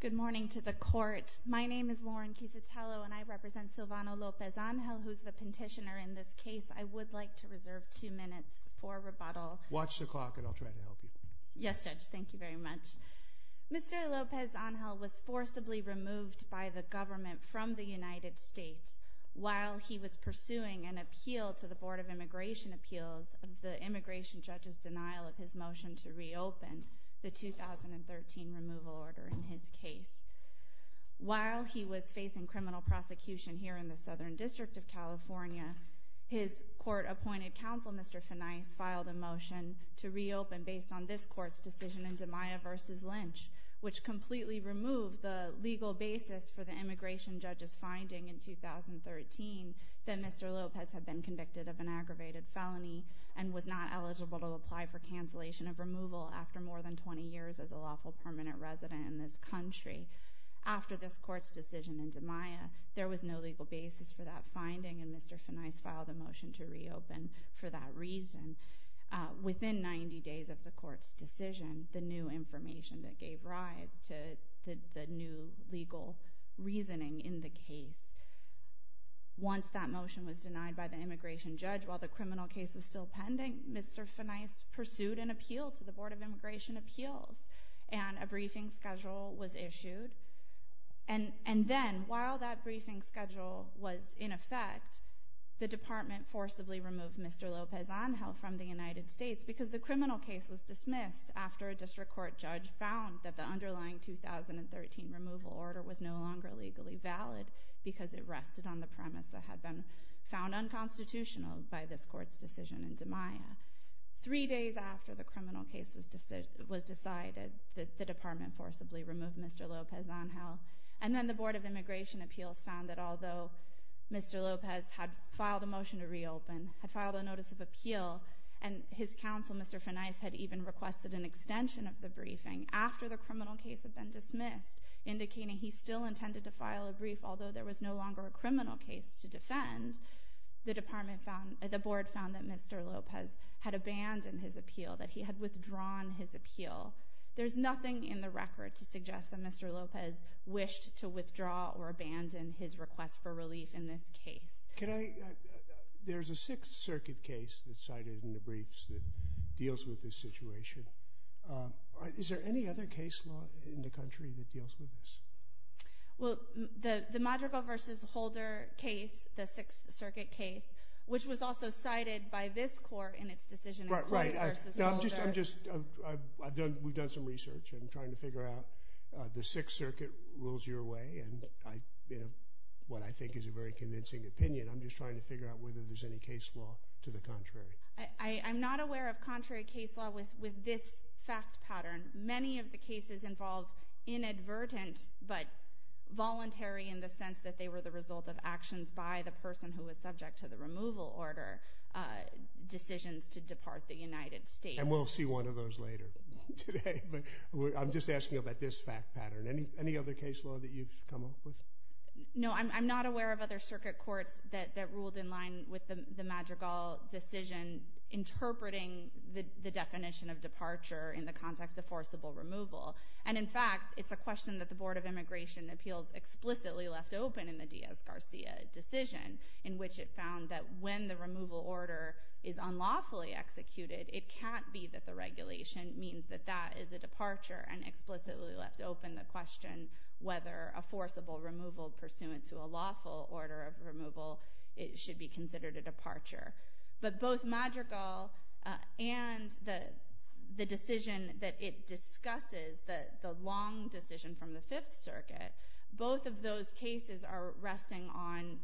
Good morning to the court. My name is Lauren Quisitello and I represent Silvano Lopez-Angel who is the petitioner in this case. I would like to reserve two minutes for rebuttal. Watch the clock and I'll try to help you. Yes, Judge, thank you very much. Mr. Lopez-Angel was forcibly removed by the government from the United States while he was pursuing an appeal to the Board of Immigration Appeals of the immigration judge's the 2013 removal order in his case. While he was facing criminal prosecution here in the Southern District of California, his court-appointed counsel, Mr. Finais, filed a motion to reopen based on this court's decision in DiMaio v. Lynch, which completely removed the legal basis for the immigration judge's finding in 2013 that Mr. Lopez had been convicted of an aggravated felony and was not eligible to apply for cancellation of removal after more than 20 years as a lawful permanent resident in this country. After this court's decision in DiMaio, there was no legal basis for that finding and Mr. Finais filed a motion to reopen for that reason. Within 90 days of the court's decision, the new information that gave rise to the new legal reasoning in the case. Once that motion was denied by the immigration judge while the criminal case was still pending, Mr. Finais pursued an appeal to the Board of Immigration Appeals and a briefing schedule was issued. And then while that briefing schedule was in effect, the department forcibly removed Mr. Lopez-Angel from the United States because the criminal case was dismissed after a district court judge found that the underlying 2013 removal order was no longer legally valid because it rested on the premise that had been found unconstitutional by this court's decision in DiMaio. Three days after the criminal case was decided, the department forcibly removed Mr. Lopez-Angel. And then the Board of Immigration Appeals found that although Mr. Lopez had filed a motion to reopen, had Mr. Finais had even requested an extension of the briefing, after the criminal case had been dismissed, indicating he still intended to file a brief although there was no longer a criminal case to defend, the department found, the board found that Mr. Lopez had abandoned his appeal, that he had withdrawn his appeal. There's nothing in the record to suggest that Mr. Lopez wished to withdraw or abandon his request for relief in this deals with this situation. Is there any other case law in the country that deals with this? Well, the Madrigal v. Holder case, the Sixth Circuit case, which was also cited by this court in its decision in Madrigal v. Holder. Right, right. I'm just, we've done some research and trying to figure out the Sixth Circuit rules your way and what I think is a very convincing opinion. I'm just trying to figure out whether there's any case law to the contrary. I'm not aware of contrary case law with this fact pattern. Many of the cases involve inadvertent but voluntary in the sense that they were the result of actions by the person who was subject to the removal order, decisions to depart the United States. And we'll see one of those later today. I'm just asking about this fact pattern. Any other case law that you've come up with? No, I'm not aware of other circuit courts that ruled in line with the Madrigal decision interpreting the definition of departure in the context of forcible removal. And in fact, it's a question that the Board of Immigration Appeals explicitly left open in the Diaz-Garcia decision in which it found that when the removal order is unlawfully executed, it can't be that the regulation means that that is a departure and explicitly left open the question whether a forcible removal pursuant to a lawful order of removal should be considered a departure. But both Madrigal and the decision that it discusses, the long decision from the Fifth Circuit, both of those cases are resting on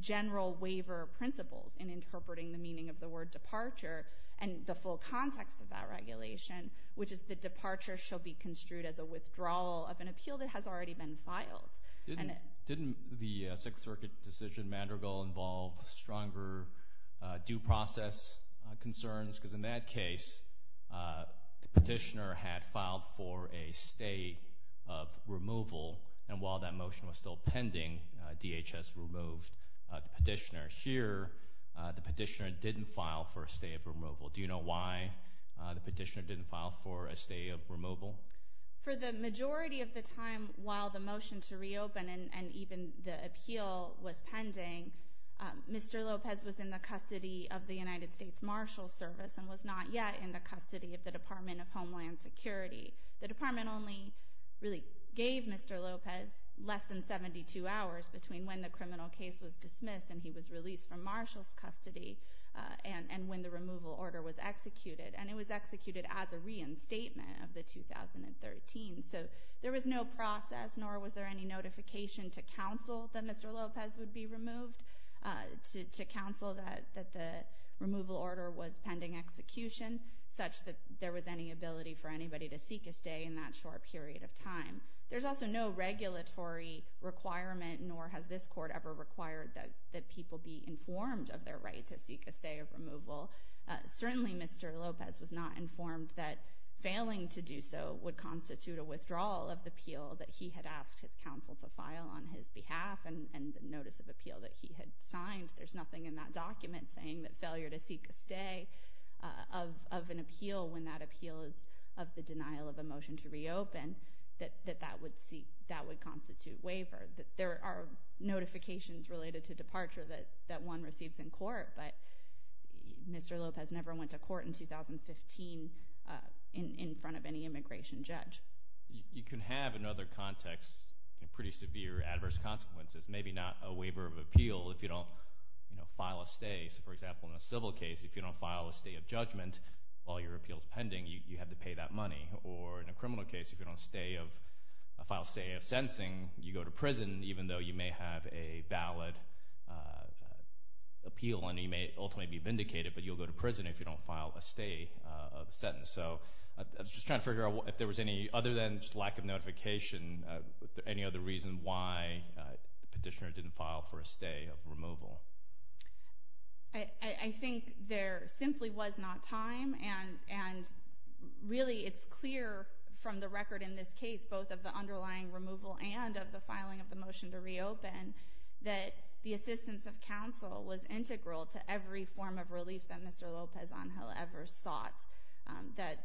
general waiver principles in interpreting the meaning of the word departure and the full context of that regulation, which is that departure shall be construed as a withdrawal of an appeal that has already been filed. Didn't the Sixth Circuit decision, Madrigal, involve stronger due process concerns? Because in that case, the petitioner had filed for a stay of removal, and while that motion was still pending, DHS removed the petitioner. Here, the petitioner didn't file for a stay of removal. Do you know why the petitioner didn't file for a stay of removal? For the majority of the time while the motion to reopen and even the appeal was pending, Mr. Lopez was in the custody of the United States Marshals Service and was not yet in the custody of the Department of Homeland Security. The Department only really gave Mr. Lopez less than 72 hours between when the criminal case was dismissed and he was removed. The removal order was executed, and it was executed as a reinstatement of the 2013. So there was no process, nor was there any notification to counsel that Mr. Lopez would be removed, to counsel that the removal order was pending execution, such that there was any ability for anybody to seek a stay in that short period of time. There's also no regulatory requirement, nor has this court ever required that people be informed of their right to seek a stay of removal. Certainly, Mr. Lopez was not informed that failing to do so would constitute a withdrawal of the appeal that he had asked his counsel to file on his behalf and the notice of appeal that he had signed. There's nothing in that document saying that failure to seek a stay of an appeal when that appeal is of the denial of a motion to reopen, that that would constitute waiver. There are notifications related to departure that one receives in court, but Mr. Lopez never went to court in 2015 in front of any immigration judge. You can have, in other contexts, pretty severe adverse consequences. Maybe not a waiver of appeal if you don't file a stay. For example, in a civil case, if you don't file a stay of judgment while your appeal is pending, you have to pay that money. Or in a criminal case, if you don't file a stay of sentencing, you go to prison, even though you may have a valid appeal and you may ultimately be vindicated, but you'll go to prison if you don't file a stay of a sentence. I was just trying to figure out if there was any, other than just lack of notification, any other reason why the petitioner didn't file for a stay of removal. I think there simply was not time. Really, it's clear from the record in this case, both of the underlying removal and of the filing of the motion to reopen, that the assistance of counsel was integral to every form of relief that Mr. Lopez Angel ever sought. That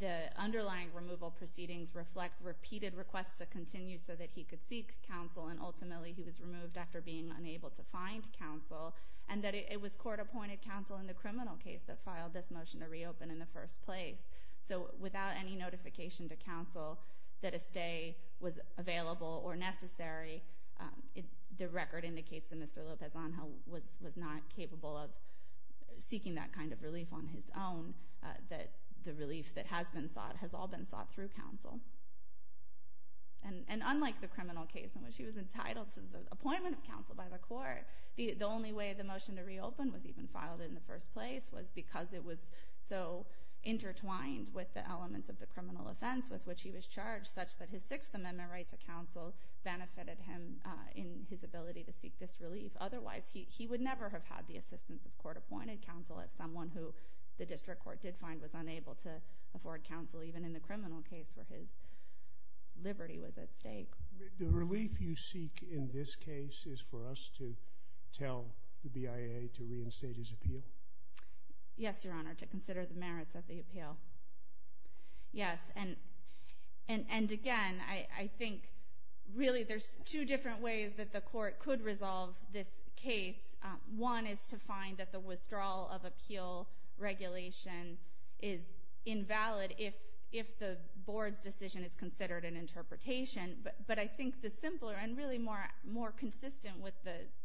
the underlying removal proceedings reflect repeated requests to continue so that he could seek counsel and ultimately he was removed after being unable to find counsel. And that it was court-appointed counsel in the criminal case that filed this motion to reopen in the first place. That if a stay was available or necessary, the record indicates that Mr. Lopez Angel was not capable of seeking that kind of relief on his own. That the relief that has been sought has all been sought through counsel. And unlike the criminal case in which he was entitled to the appointment of counsel by the court, the only way the motion to reopen was even filed in the first place was because it was so intertwined with the elements of the criminal offense with which he was charged such that his Sixth Amendment right to counsel benefited him in his ability to seek this relief. Otherwise, he would never have had the assistance of court-appointed counsel as someone who the district court did find was unable to afford counsel even in the criminal case where his liberty was at stake. The relief you seek in this case is for us to tell the BIA to reinstate his appeal? Yes, Your Honor, to consider the merits of the appeal. Yes. And again, I think really there's two different ways that the court could resolve this case. One is to find that the withdrawal of appeal regulation is invalid if the board's decision is considered an interpretation. But I think the simpler and really more consistent with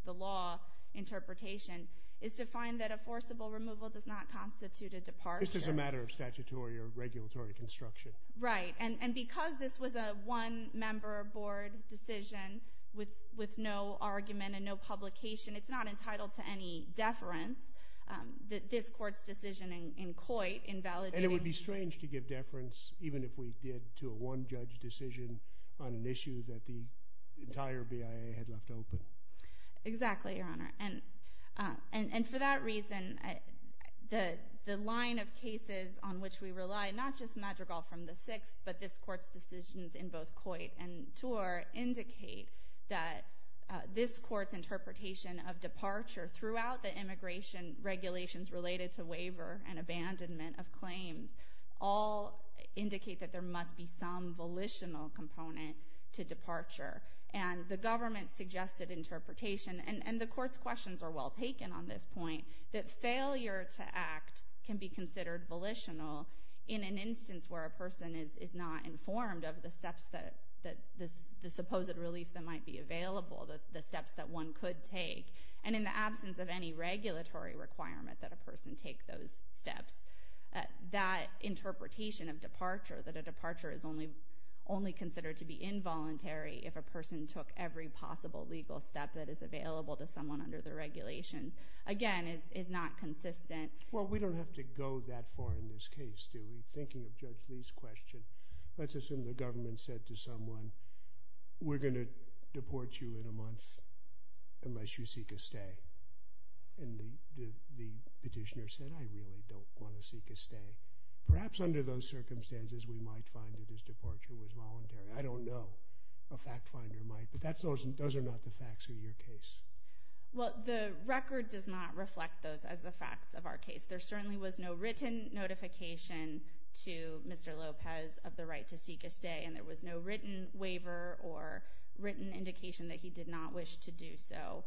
the law interpretation is to find that forcible removal does not constitute a departure. It's just a matter of statutory or regulatory construction. Right. And because this was a one-member board decision with no argument and no publication, it's not entitled to any deference. This court's decision in Coit invalidating... And it would be strange to give deference even if we did to a one-judge decision on an issue that the entire BIA had left open. Exactly, Your Honor. And for that reason, the line of cases on which we rely, not just Madrigal from the 6th, but this court's decisions in both Coit and Torr indicate that this court's interpretation of departure throughout the immigration regulations related to waiver and abandonment of claims all indicate that there must be some volitional component to the interpretation. And the court's questions are well taken on this point, that failure to act can be considered volitional in an instance where a person is not informed of the supposed relief that might be available, the steps that one could take. And in the absence of any regulatory requirement that a person take those steps, that interpretation of departure, that a departure is only considered to be involuntary if a person took every possible legal step that is available to someone under the regulations, again, is not consistent. Well, we don't have to go that far in this case, do we? Thinking of Judge Lee's question, let's assume the government said to someone, we're going to deport you in a month unless you seek a stay. And the petitioner said, I really don't want to seek a stay. Perhaps under those circumstances, we might find that his departure was voluntary. I don't know. A fact finder might. But those are not the facts of your case. Well, the record does not reflect those as the facts of our case. There certainly was no written notification to Mr. Lopez of the right to seek a stay. And there was no written waiver or written indication that he did not wish to do so.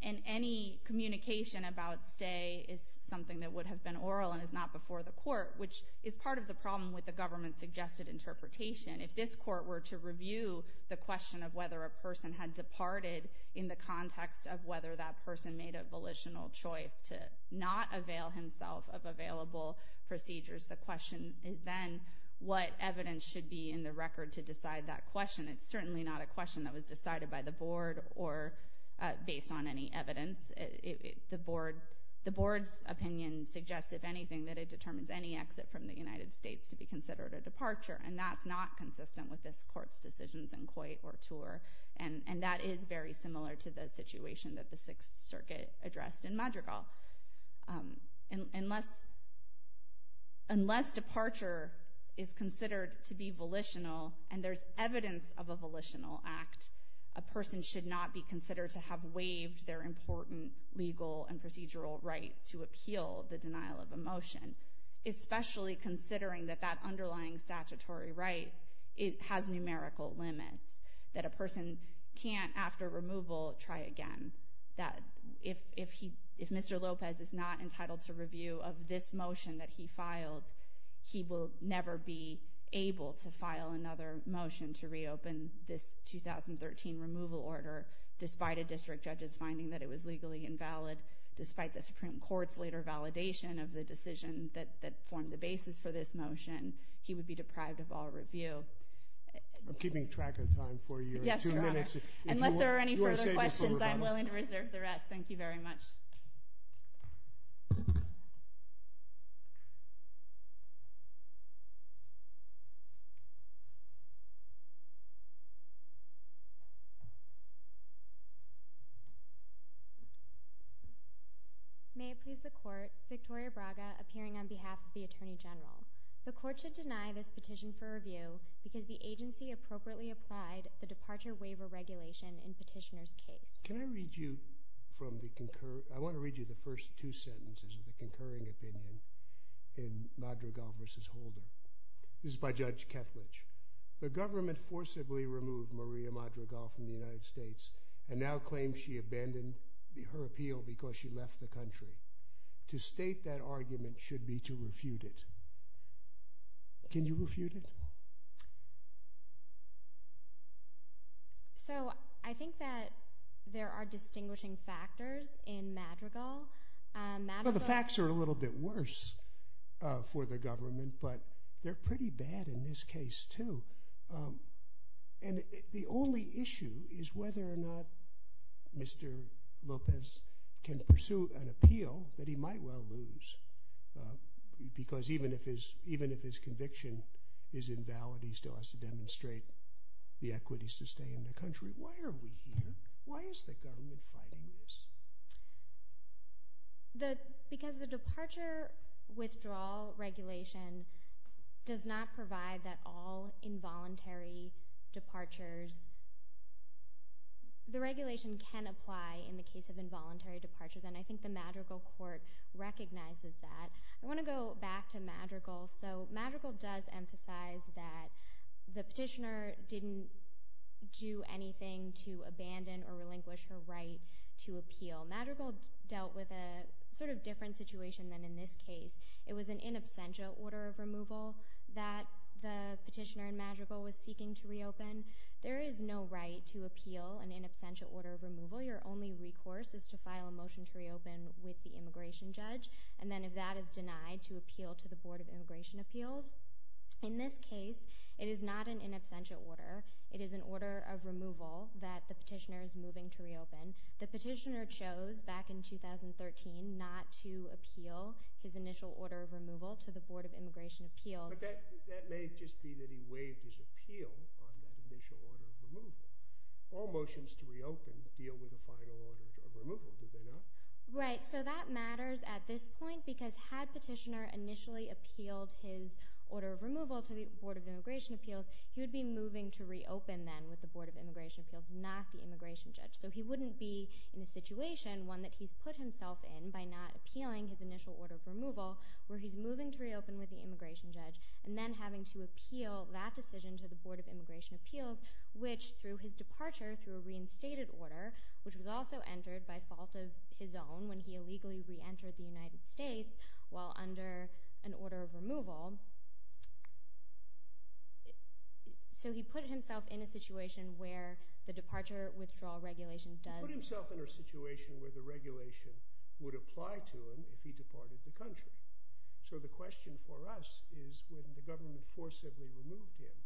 And any communication about stay is something that would have been oral and is not before the court, which is part of the problem with the government-suggested interpretation. If this court were to review the question of whether a person had departed in the context of whether that person made a volitional choice to not avail himself of available procedures, the question is then what evidence should be in the record to decide that question. It's certainly not a question that was decided by the board or based on any evidence. The board's opinion suggests, if anything, that it determines any exit from the United States to be considered a departure. And that's not consistent with this court's decisions in Coit or Tour. And that is very similar to the situation that the Sixth Circuit addressed in Madrigal. Unless departure is considered to be volitional, and there's evidence of a volitional act, a person should not be considered to have waived their important legal and procedural right to appeal the denial of a motion, especially considering that that underlying statutory right has numerical limits, that a person can't, after removal, try again. If Mr. Lopez is not entitled to review of this motion that he filed, he will never be able to file another motion to reopen this 2013 removal order, despite a district judge's finding that it was legally invalid, despite the Supreme Court's later validation of the decision that formed the basis for this motion, he would be deprived of all review. I'm keeping track of time for you. Yes, Your Honor. Unless there are any further questions, I'm willing to reserve the rest. Thank you very much. May it please the Court, Victoria Braga, appearing on behalf of the Attorney General. The Court should deny this petition for review because the agency appropriately applied the departure waiver regulation in Petitioner's case. Can I read you from the concur... I want to read you the first two sentences of the concurring opinion in Madrigal v. Holder. This is by Judge Kethledge. The government forcibly removed Maria Madrigal from the United States and now claims she abandoned her appeal because she left the country. To state that argument should be to refute it. Can you refute it? So, I think that there are distinguishing factors in Madrigal. The facts are a little bit worse for the government, but they're pretty bad in this case, too. And the only issue is whether or not Mr. Lopez can pursue an appeal that he might well lose. Because even if his conviction is invalid, he still has to demonstrate the equities to stay in the country. Why are we here? Why is the government fighting this? Because the departure withdrawal regulation does not provide that all involuntary departures... The regulation can apply in the case of involuntary departures, and I think the Madrigal court recognizes that. I want to go back to Madrigal. So Madrigal does emphasize that the petitioner didn't do anything to abandon or relinquish her right to appeal. Madrigal dealt with a sort of different situation than in this case. It was an in absentia order of removal that the petitioner in Madrigal was seeking to reopen. There is no right to appeal an in absentia order of removal. Your only recourse is to file a motion to reopen with the immigration judge, and then if that is denied, to appeal to the Board of Immigration Appeals. In this case, it is not an in absentia order. It is an order of removal that the petitioner is moving to reopen. The petitioner chose back in 2013 not to appeal his initial order of removal to the Board of Immigration Appeals. But that may just be that he waived his appeal on that initial order of removal. All motions to reopen deal with a final order of removal, do they not? Right. So that matters at this point, because had petitioner initially appealed his order of removal to the Board of Immigration Appeals, he would be moving to reopen then with the Board of Immigration Appeals, not the immigration judge. So he wouldn't be in a situation, one that he's put himself in by not appealing his initial order of removal, where he's moving to reopen with the immigration judge, and then having to appeal that decision to the Board of Immigration Appeals, which through his departure through a reinstated order, which was also entered by fault of his own when he illegally reentered the United States while under an order of removal. So he put himself in a situation where the departure withdrawal regulation does... He put himself in a situation where the regulation would apply to him if he departed the country. So the question for us is, when the government forcibly removed him,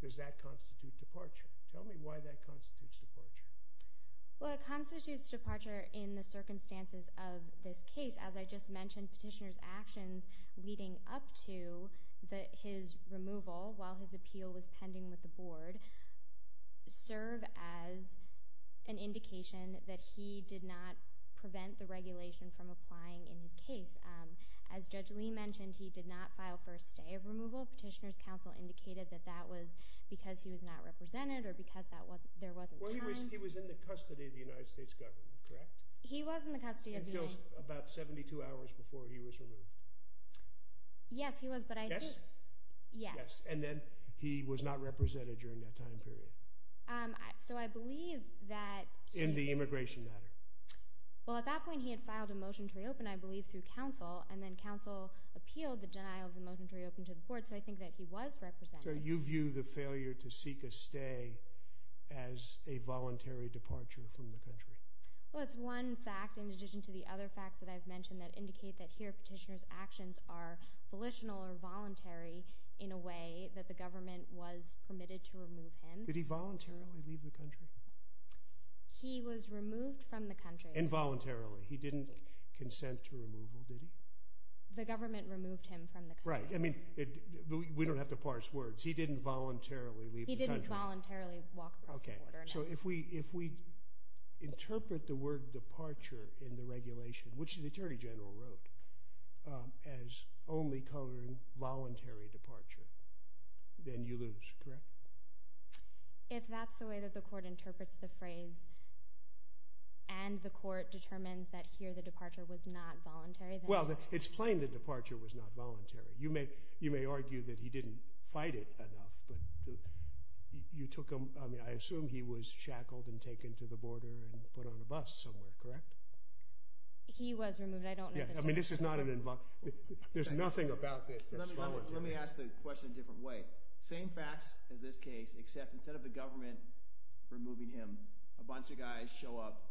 does that constitute departure? Tell me why that constitutes departure. Well, it constitutes departure in the circumstances of this case. As I just mentioned, petitioner's actions leading up to his removal while his pending with the Board, serve as an indication that he did not prevent the regulation from applying in his case. As Judge Lee mentioned, he did not file first day of removal. Petitioner's counsel indicated that that was because he was not represented or because there wasn't time. Well, he was in the custody of the United States government, correct? He was in the custody of the United... Until about 72 hours before he was removed. Yes, he was, but I believe he was not represented during that time period. So I believe that he... In the immigration matter. Well, at that point he had filed a motion to reopen, I believe, through counsel, and then counsel appealed the denial of the motion to reopen to the Board, so I think that he was represented. So you view the failure to seek a stay as a voluntary departure from the country? Well, it's one fact in addition to the other facts that I've mentioned that indicate that here petitioner's actions are volitional or voluntary in a way that the government was permitted to remove him. Did he voluntarily leave the country? He was removed from the country. And voluntarily, he didn't consent to removal, did he? The government removed him from the country. Right, I mean, we don't have to parse words. He didn't voluntarily leave the country. He didn't voluntarily walk across the border. Okay, so if we interpret the word departure in the regulation, which the Attorney General wrote, as only coloring a voluntary departure, then you lose, correct? If that's the way that the court interprets the phrase, and the court determines that here the departure was not voluntary, then... Well, it's plain that departure was not voluntary. You may argue that he didn't fight it enough, but you took him... I mean, I assume he was shackled and taken to the border and put on a bus somewhere, correct? He was removed, I don't know... I mean, this is not an invol... There's nothing about this that's voluntary. Let me ask the question in a different way. Same facts as this case, except instead of the government removing him, a bunch of guys show up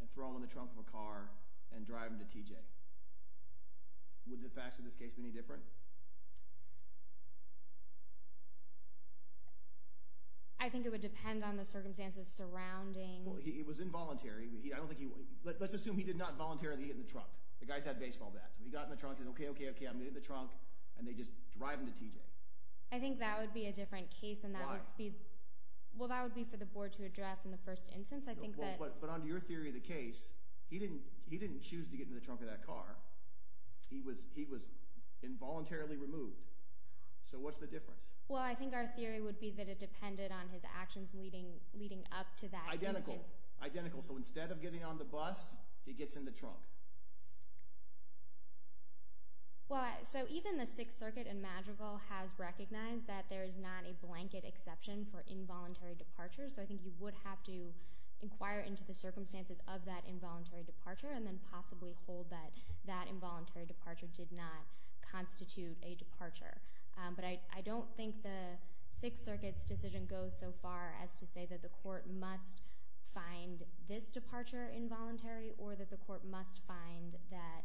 and throw him in the trunk of a car and drive him to TJ. Would the facts of this case be any different? I think it would depend on the circumstances surrounding... Well, he was involuntary. I don't think he... Let's assume he did not voluntarily get in the trunk and said, okay, okay, okay, I'm getting in the trunk, and they just drive him to TJ. I think that would be a different case, and that would be... Why? Well, that would be for the board to address in the first instance. I think that... But under your theory of the case, he didn't choose to get into the trunk of that car. He was involuntarily removed. So what's the difference? Well, I think our theory would be that it depended on his actions leading up to that instance. Identical. So instead of getting on the bus, he gets in the trunk. Well, so even the Sixth Circuit in Madrigal has recognized that there is not a blanket exception for involuntary departure. So I think you would have to inquire into the circumstances of that involuntary departure and then possibly hold that that involuntary departure did not constitute a departure. But I don't think the Sixth Circuit's decision goes so far as to say that the court must find this departure involuntary or that the court must find that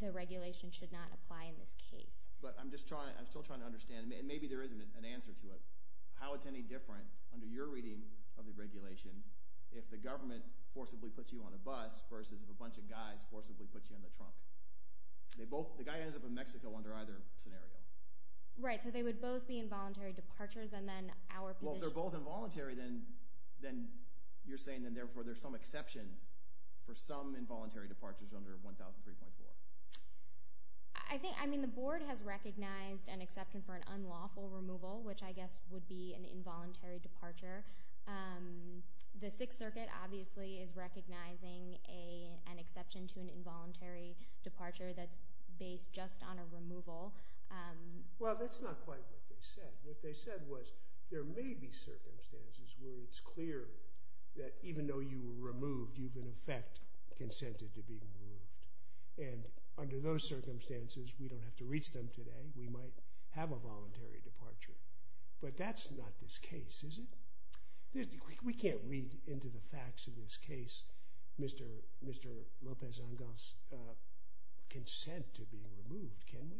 the regulation should not apply in this case. But I'm still trying to understand, and maybe there isn't an answer to it, how it's any different under your reading of the regulation if the government forcibly puts you on a bus versus if a bunch of guys forcibly put you in the trunk. The guy ends up in Mexico under either scenario. Right, so they would both be involuntary departures, and then our position... Well, if they're both involuntary, then you're saying that therefore there's some exception for some involuntary departures under 1003.4. I think, I mean, the board has recognized an exception for an unlawful removal, which I guess would be an involuntary departure. The Sixth Circuit obviously is recognizing an exception to an involuntary departure that's based just on a removal. Well, that's not quite what they said. What they said was there may be circumstances where it's clear that even though you were removed, you've in effect consented to being removed. And under those circumstances, we don't have to reach them today. We might have a voluntary departure. But that's not this case, is it? We can't read into the facts of this case Mr. Lopez-Angos' consent to being removed, can we?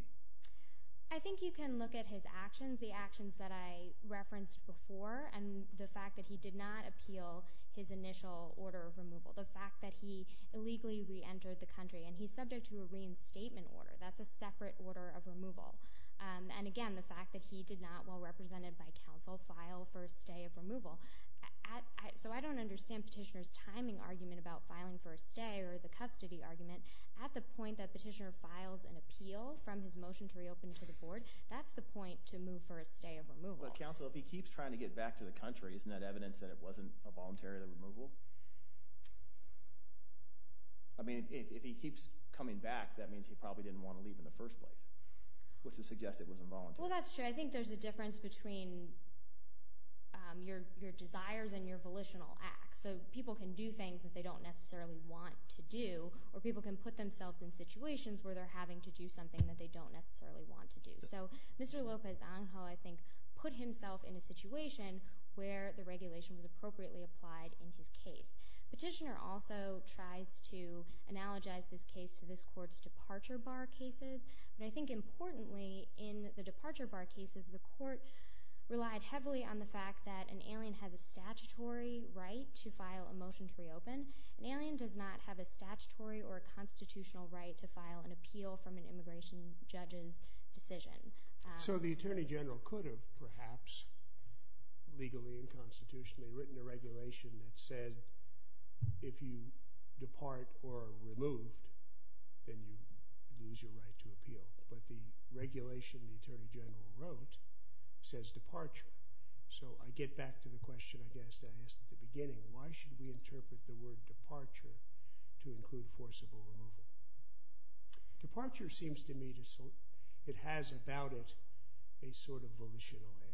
I think you can look at his actions, the actions that I referenced before, and the fact that he did not appeal his initial order of removal. The fact that he illegally reentered the country, and he's subject to a reinstatement order. That's a separate order of removal. And again, the fact that he did not, while represented by counsel, file for a stay of removal. So I don't understand Petitioner's timing argument about filing for a stay or the custody argument. At the point that Petitioner files an appeal from his motion to reopen to the Board, that's the point to move for a stay of removal. But counsel, if he keeps trying to get back to the country, isn't that evidence that it wasn't a voluntary removal? I mean, if he keeps coming back, that means he probably didn't want to leave in the first place. Which would suggest it was involuntary. Well, that's true. I think there's a difference between your desires and your volitional acts. So people can do things that they don't necessarily want to do, or people can put themselves in situations where they're having to do something that they don't necessarily want to do. So Mr. Lopez-Angos, I think, put himself in a situation where the regulation was appropriately applied in his case. Petitioner also tries to analogize this case to this Court's departure bar cases. But I think importantly, in the departure bar cases, the Court relied heavily on the fact that an alien has a statutory right to file a motion to reopen. An alien does not have a statutory or a constitutional right to file an appeal from an immigration judge's decision. So the Attorney General could have perhaps, legally and constitutionally, written a regulation that said, if you depart or are removed, then you lose your right to appeal. But the regulation the Attorney General wrote says departure. So I get back to the question, I guess, that I asked at the beginning. Why should we interpret the word departure to include forcible removal? Departure seems to me to—it has about it a sort of volitional air.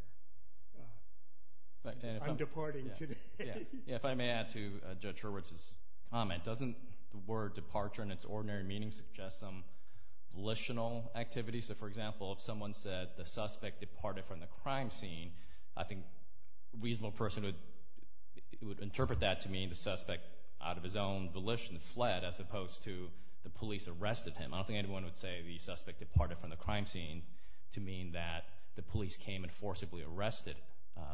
I'm departing today. If I may add to Judge Hurwitz's comment, doesn't the word departure in its ordinary meaning suggest some volitional activity? So, for example, if someone said the suspect departed from the crime scene, I think a reasonable person would interpret that to mean the suspect, out of his own volition, fled, as opposed to the police arrested him. I don't think anyone would say the suspect departed from the crime scene to mean that the police came and forcibly arrested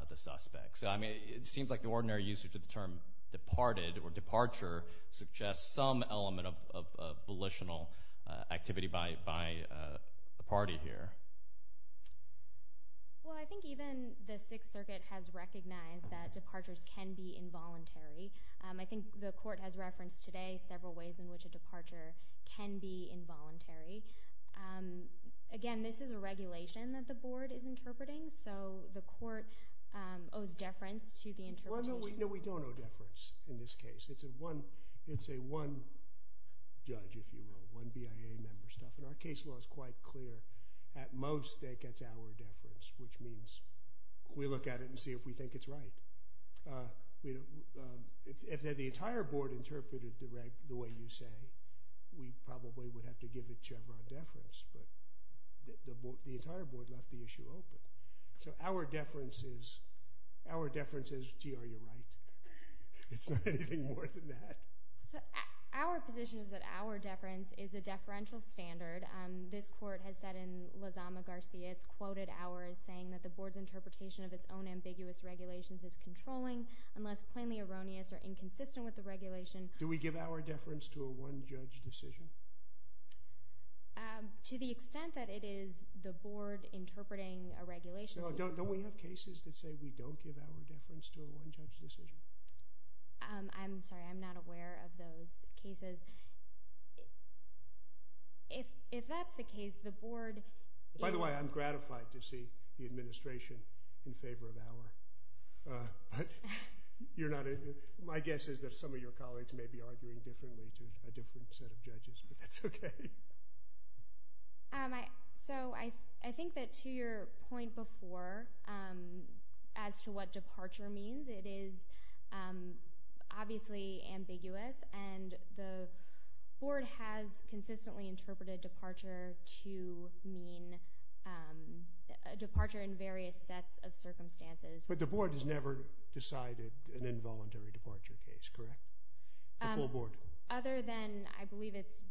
the suspect. So, I mean, it seems like the ordinary usage of the term departed or departure suggests some element of volitional activity by the party here. Well, I think even the Sixth Circuit has recognized that departures can be involuntary. I think the court has referenced today several ways in which a departure can be involuntary. Again, this is a regulation that the Board is interpreting, so the court owes deference to the interpretation. No, we don't owe deference in this case. It's a one—it's a one judge, if you will, one BIA member stuff, and our case law is quite clear. At most, that gets our deference, which means we look at it and see if we think it's right. If the entire Board interpreted the way you say, we probably would have to give it to our deference, but the entire Board left the issue open. So, our deference is—our deference is, gee, are you right? It's not anything more than that. So, our position is that our deference is a deferential standard. This court has said in Lozama-Garcia, it's quoted ours, saying that the Board's interpretation of its own ambiguous regulations is controlling unless plainly erroneous or inconsistent with the regulation. Do we give our deference to a one judge decision? To the extent that it is the Board interpreting a regulation— No, don't we have cases that say we don't give our deference to a one judge decision? I'm sorry, I'm not aware of those cases. If that's the case, the Board— By the way, I'm gratified to see the administration in favor of our, but you're not—my guess is that some of your colleagues may be arguing differently to a different set of judges, but that's okay. So, I think that to your point before, as to what departure means, it is obviously ambiguous and the Board has consistently interpreted departure to mean a departure in various sets of circumstances. But the Board has never decided an involuntary departure case, correct? The full Board? Other than, I believe it's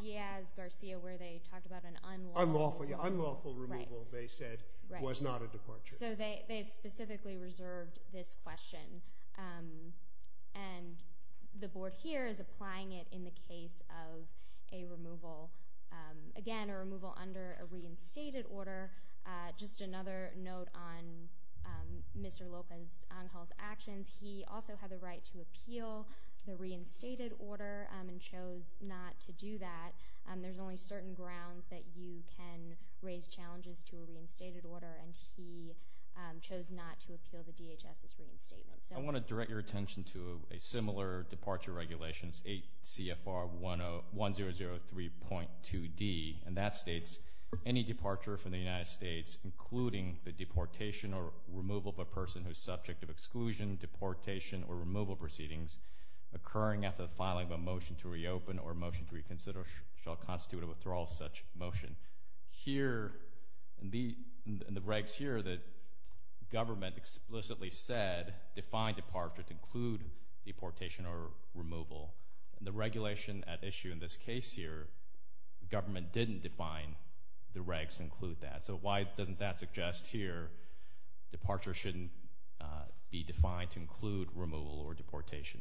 Diaz-Garcia where they talked about an unlawful— Unlawful removal, they said, was not a departure. So, they've specifically reserved this question and the Board here is applying it in the case of a removal, again, a removal under a reinstated order. Just another note on Mr. Lopez-Angel's actions, he also had the right to appeal the reinstated order and chose not to do that. There's only certain grounds that you can raise challenges to a reinstated order and he chose not to appeal the DHS's reinstatement. I want to direct your attention to a similar departure regulations, 8 CFR 1003.2D, and that states, any departure from the United States including the deportation or removal of a person who is subject to exclusion, deportation, or removal proceedings occurring after the filing of a motion to reopen or motion to reconsider shall constitute a withdrawal of such motion. Here, in the regs here, the government explicitly said define departure to include deportation or removal. In the regulation at issue in this case here, the government didn't define the regs include that. So, why doesn't that suggest here departure shouldn't be defined to include removal or deportation?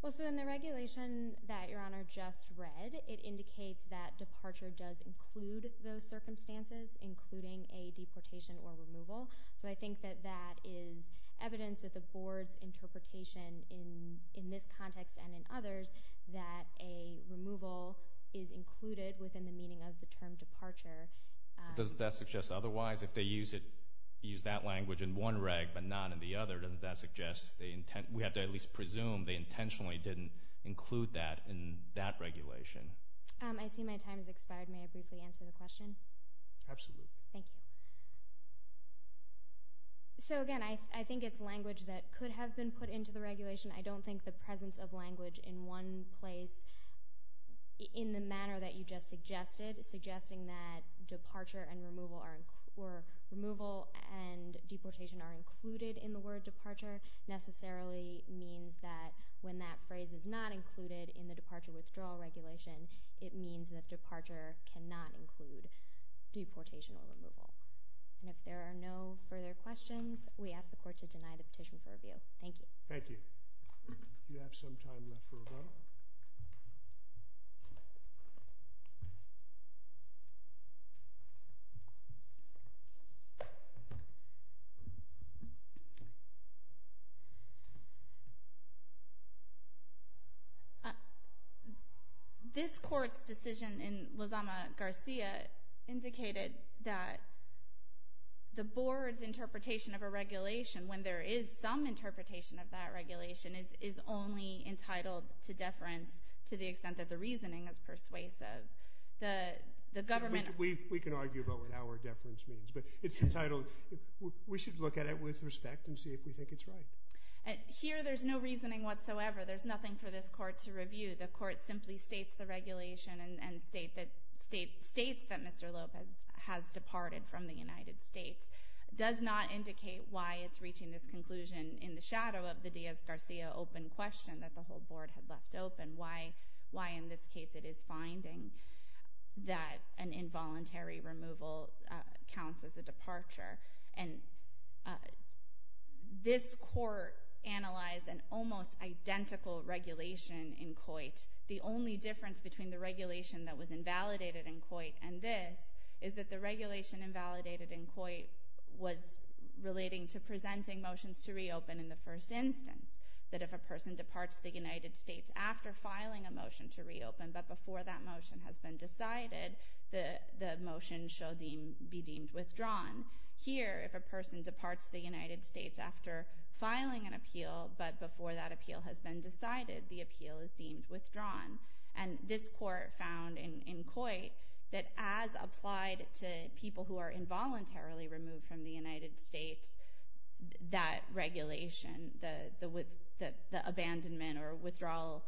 Well, so in the regulation that Your Honor just read, it indicates that departure does include those circumstances including a deportation or removal. So, I think that that is evidence that the board's interpretation in this context and in others that a removal is included within the meaning of the term departure. Doesn't that suggest otherwise? If they use that language in one reg but not in the other, doesn't that suggest we have to at least presume they intentionally didn't include that in that regulation? I see my time has expired. May I briefly answer the question? Absolutely. Thank you. So, again, I think it's language that could have been put into the regulation. I don't think the presence of language in one place in the manner that you just suggested, suggesting that departure and removal and deportation are included in the word departure necessarily means that when that phrase is not included in the departure withdrawal regulation, it means that departure cannot include deportation or removal. And if there are no further questions, we ask the court to deny the petition for review. Thank you. Thank you. Do you have some time left for rebuttal? Thank you. This court's decision in Lozama-Garcia indicated that the board's interpretation of a regulation when there is some interpretation of that regulation is only entitled to deference to the extent that the reasoning is persuasive. The government... We can argue about what our deference means, but it's entitled... We should look at it with respect and see if we think it's right. Here, there's no reasoning whatsoever. There's nothing for this court to review. The court simply states the regulation and states that Mr. Lopez has departed from the United States. It does not indicate why it's reaching this conclusion in the shadow of the Diaz-Garcia open question that the whole board had left open, why in this case it is finding that an involuntary removal counts as a departure. And this court analyzed an almost identical regulation in Coit. The only difference between the regulation that was invalidated in Coit and this is that the regulation invalidated in Coit was relating to presenting motions to reopen in the first instance, that if a person departs the United States after filing a motion to reopen, but before that motion has been decided, the motion shall be deemed withdrawn. Here, if a person departs the United States after filing an appeal, but before that appeal has been decided, the appeal is deemed withdrawn. And this court found in Coit that as applied to people who are involuntarily removed from the United States, that regulation, the abandonment or withdrawal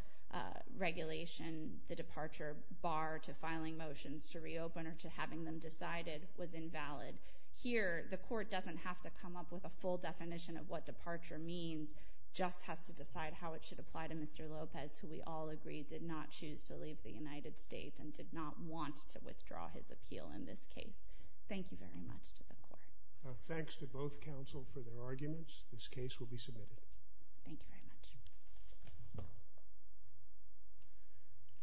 regulation, the departure bar to filing motions to reopen or to having them decided was invalid. Here, the court doesn't have to come up with a full definition of what departure means, just has to decide how it should apply to Mr. Lopez, who we all agree did not choose to leave the United States and did not want to withdraw his appeal in this case. Thank you very much to the court. Thanks to both counsel for their arguments. This case will be submitted. Thank you very much.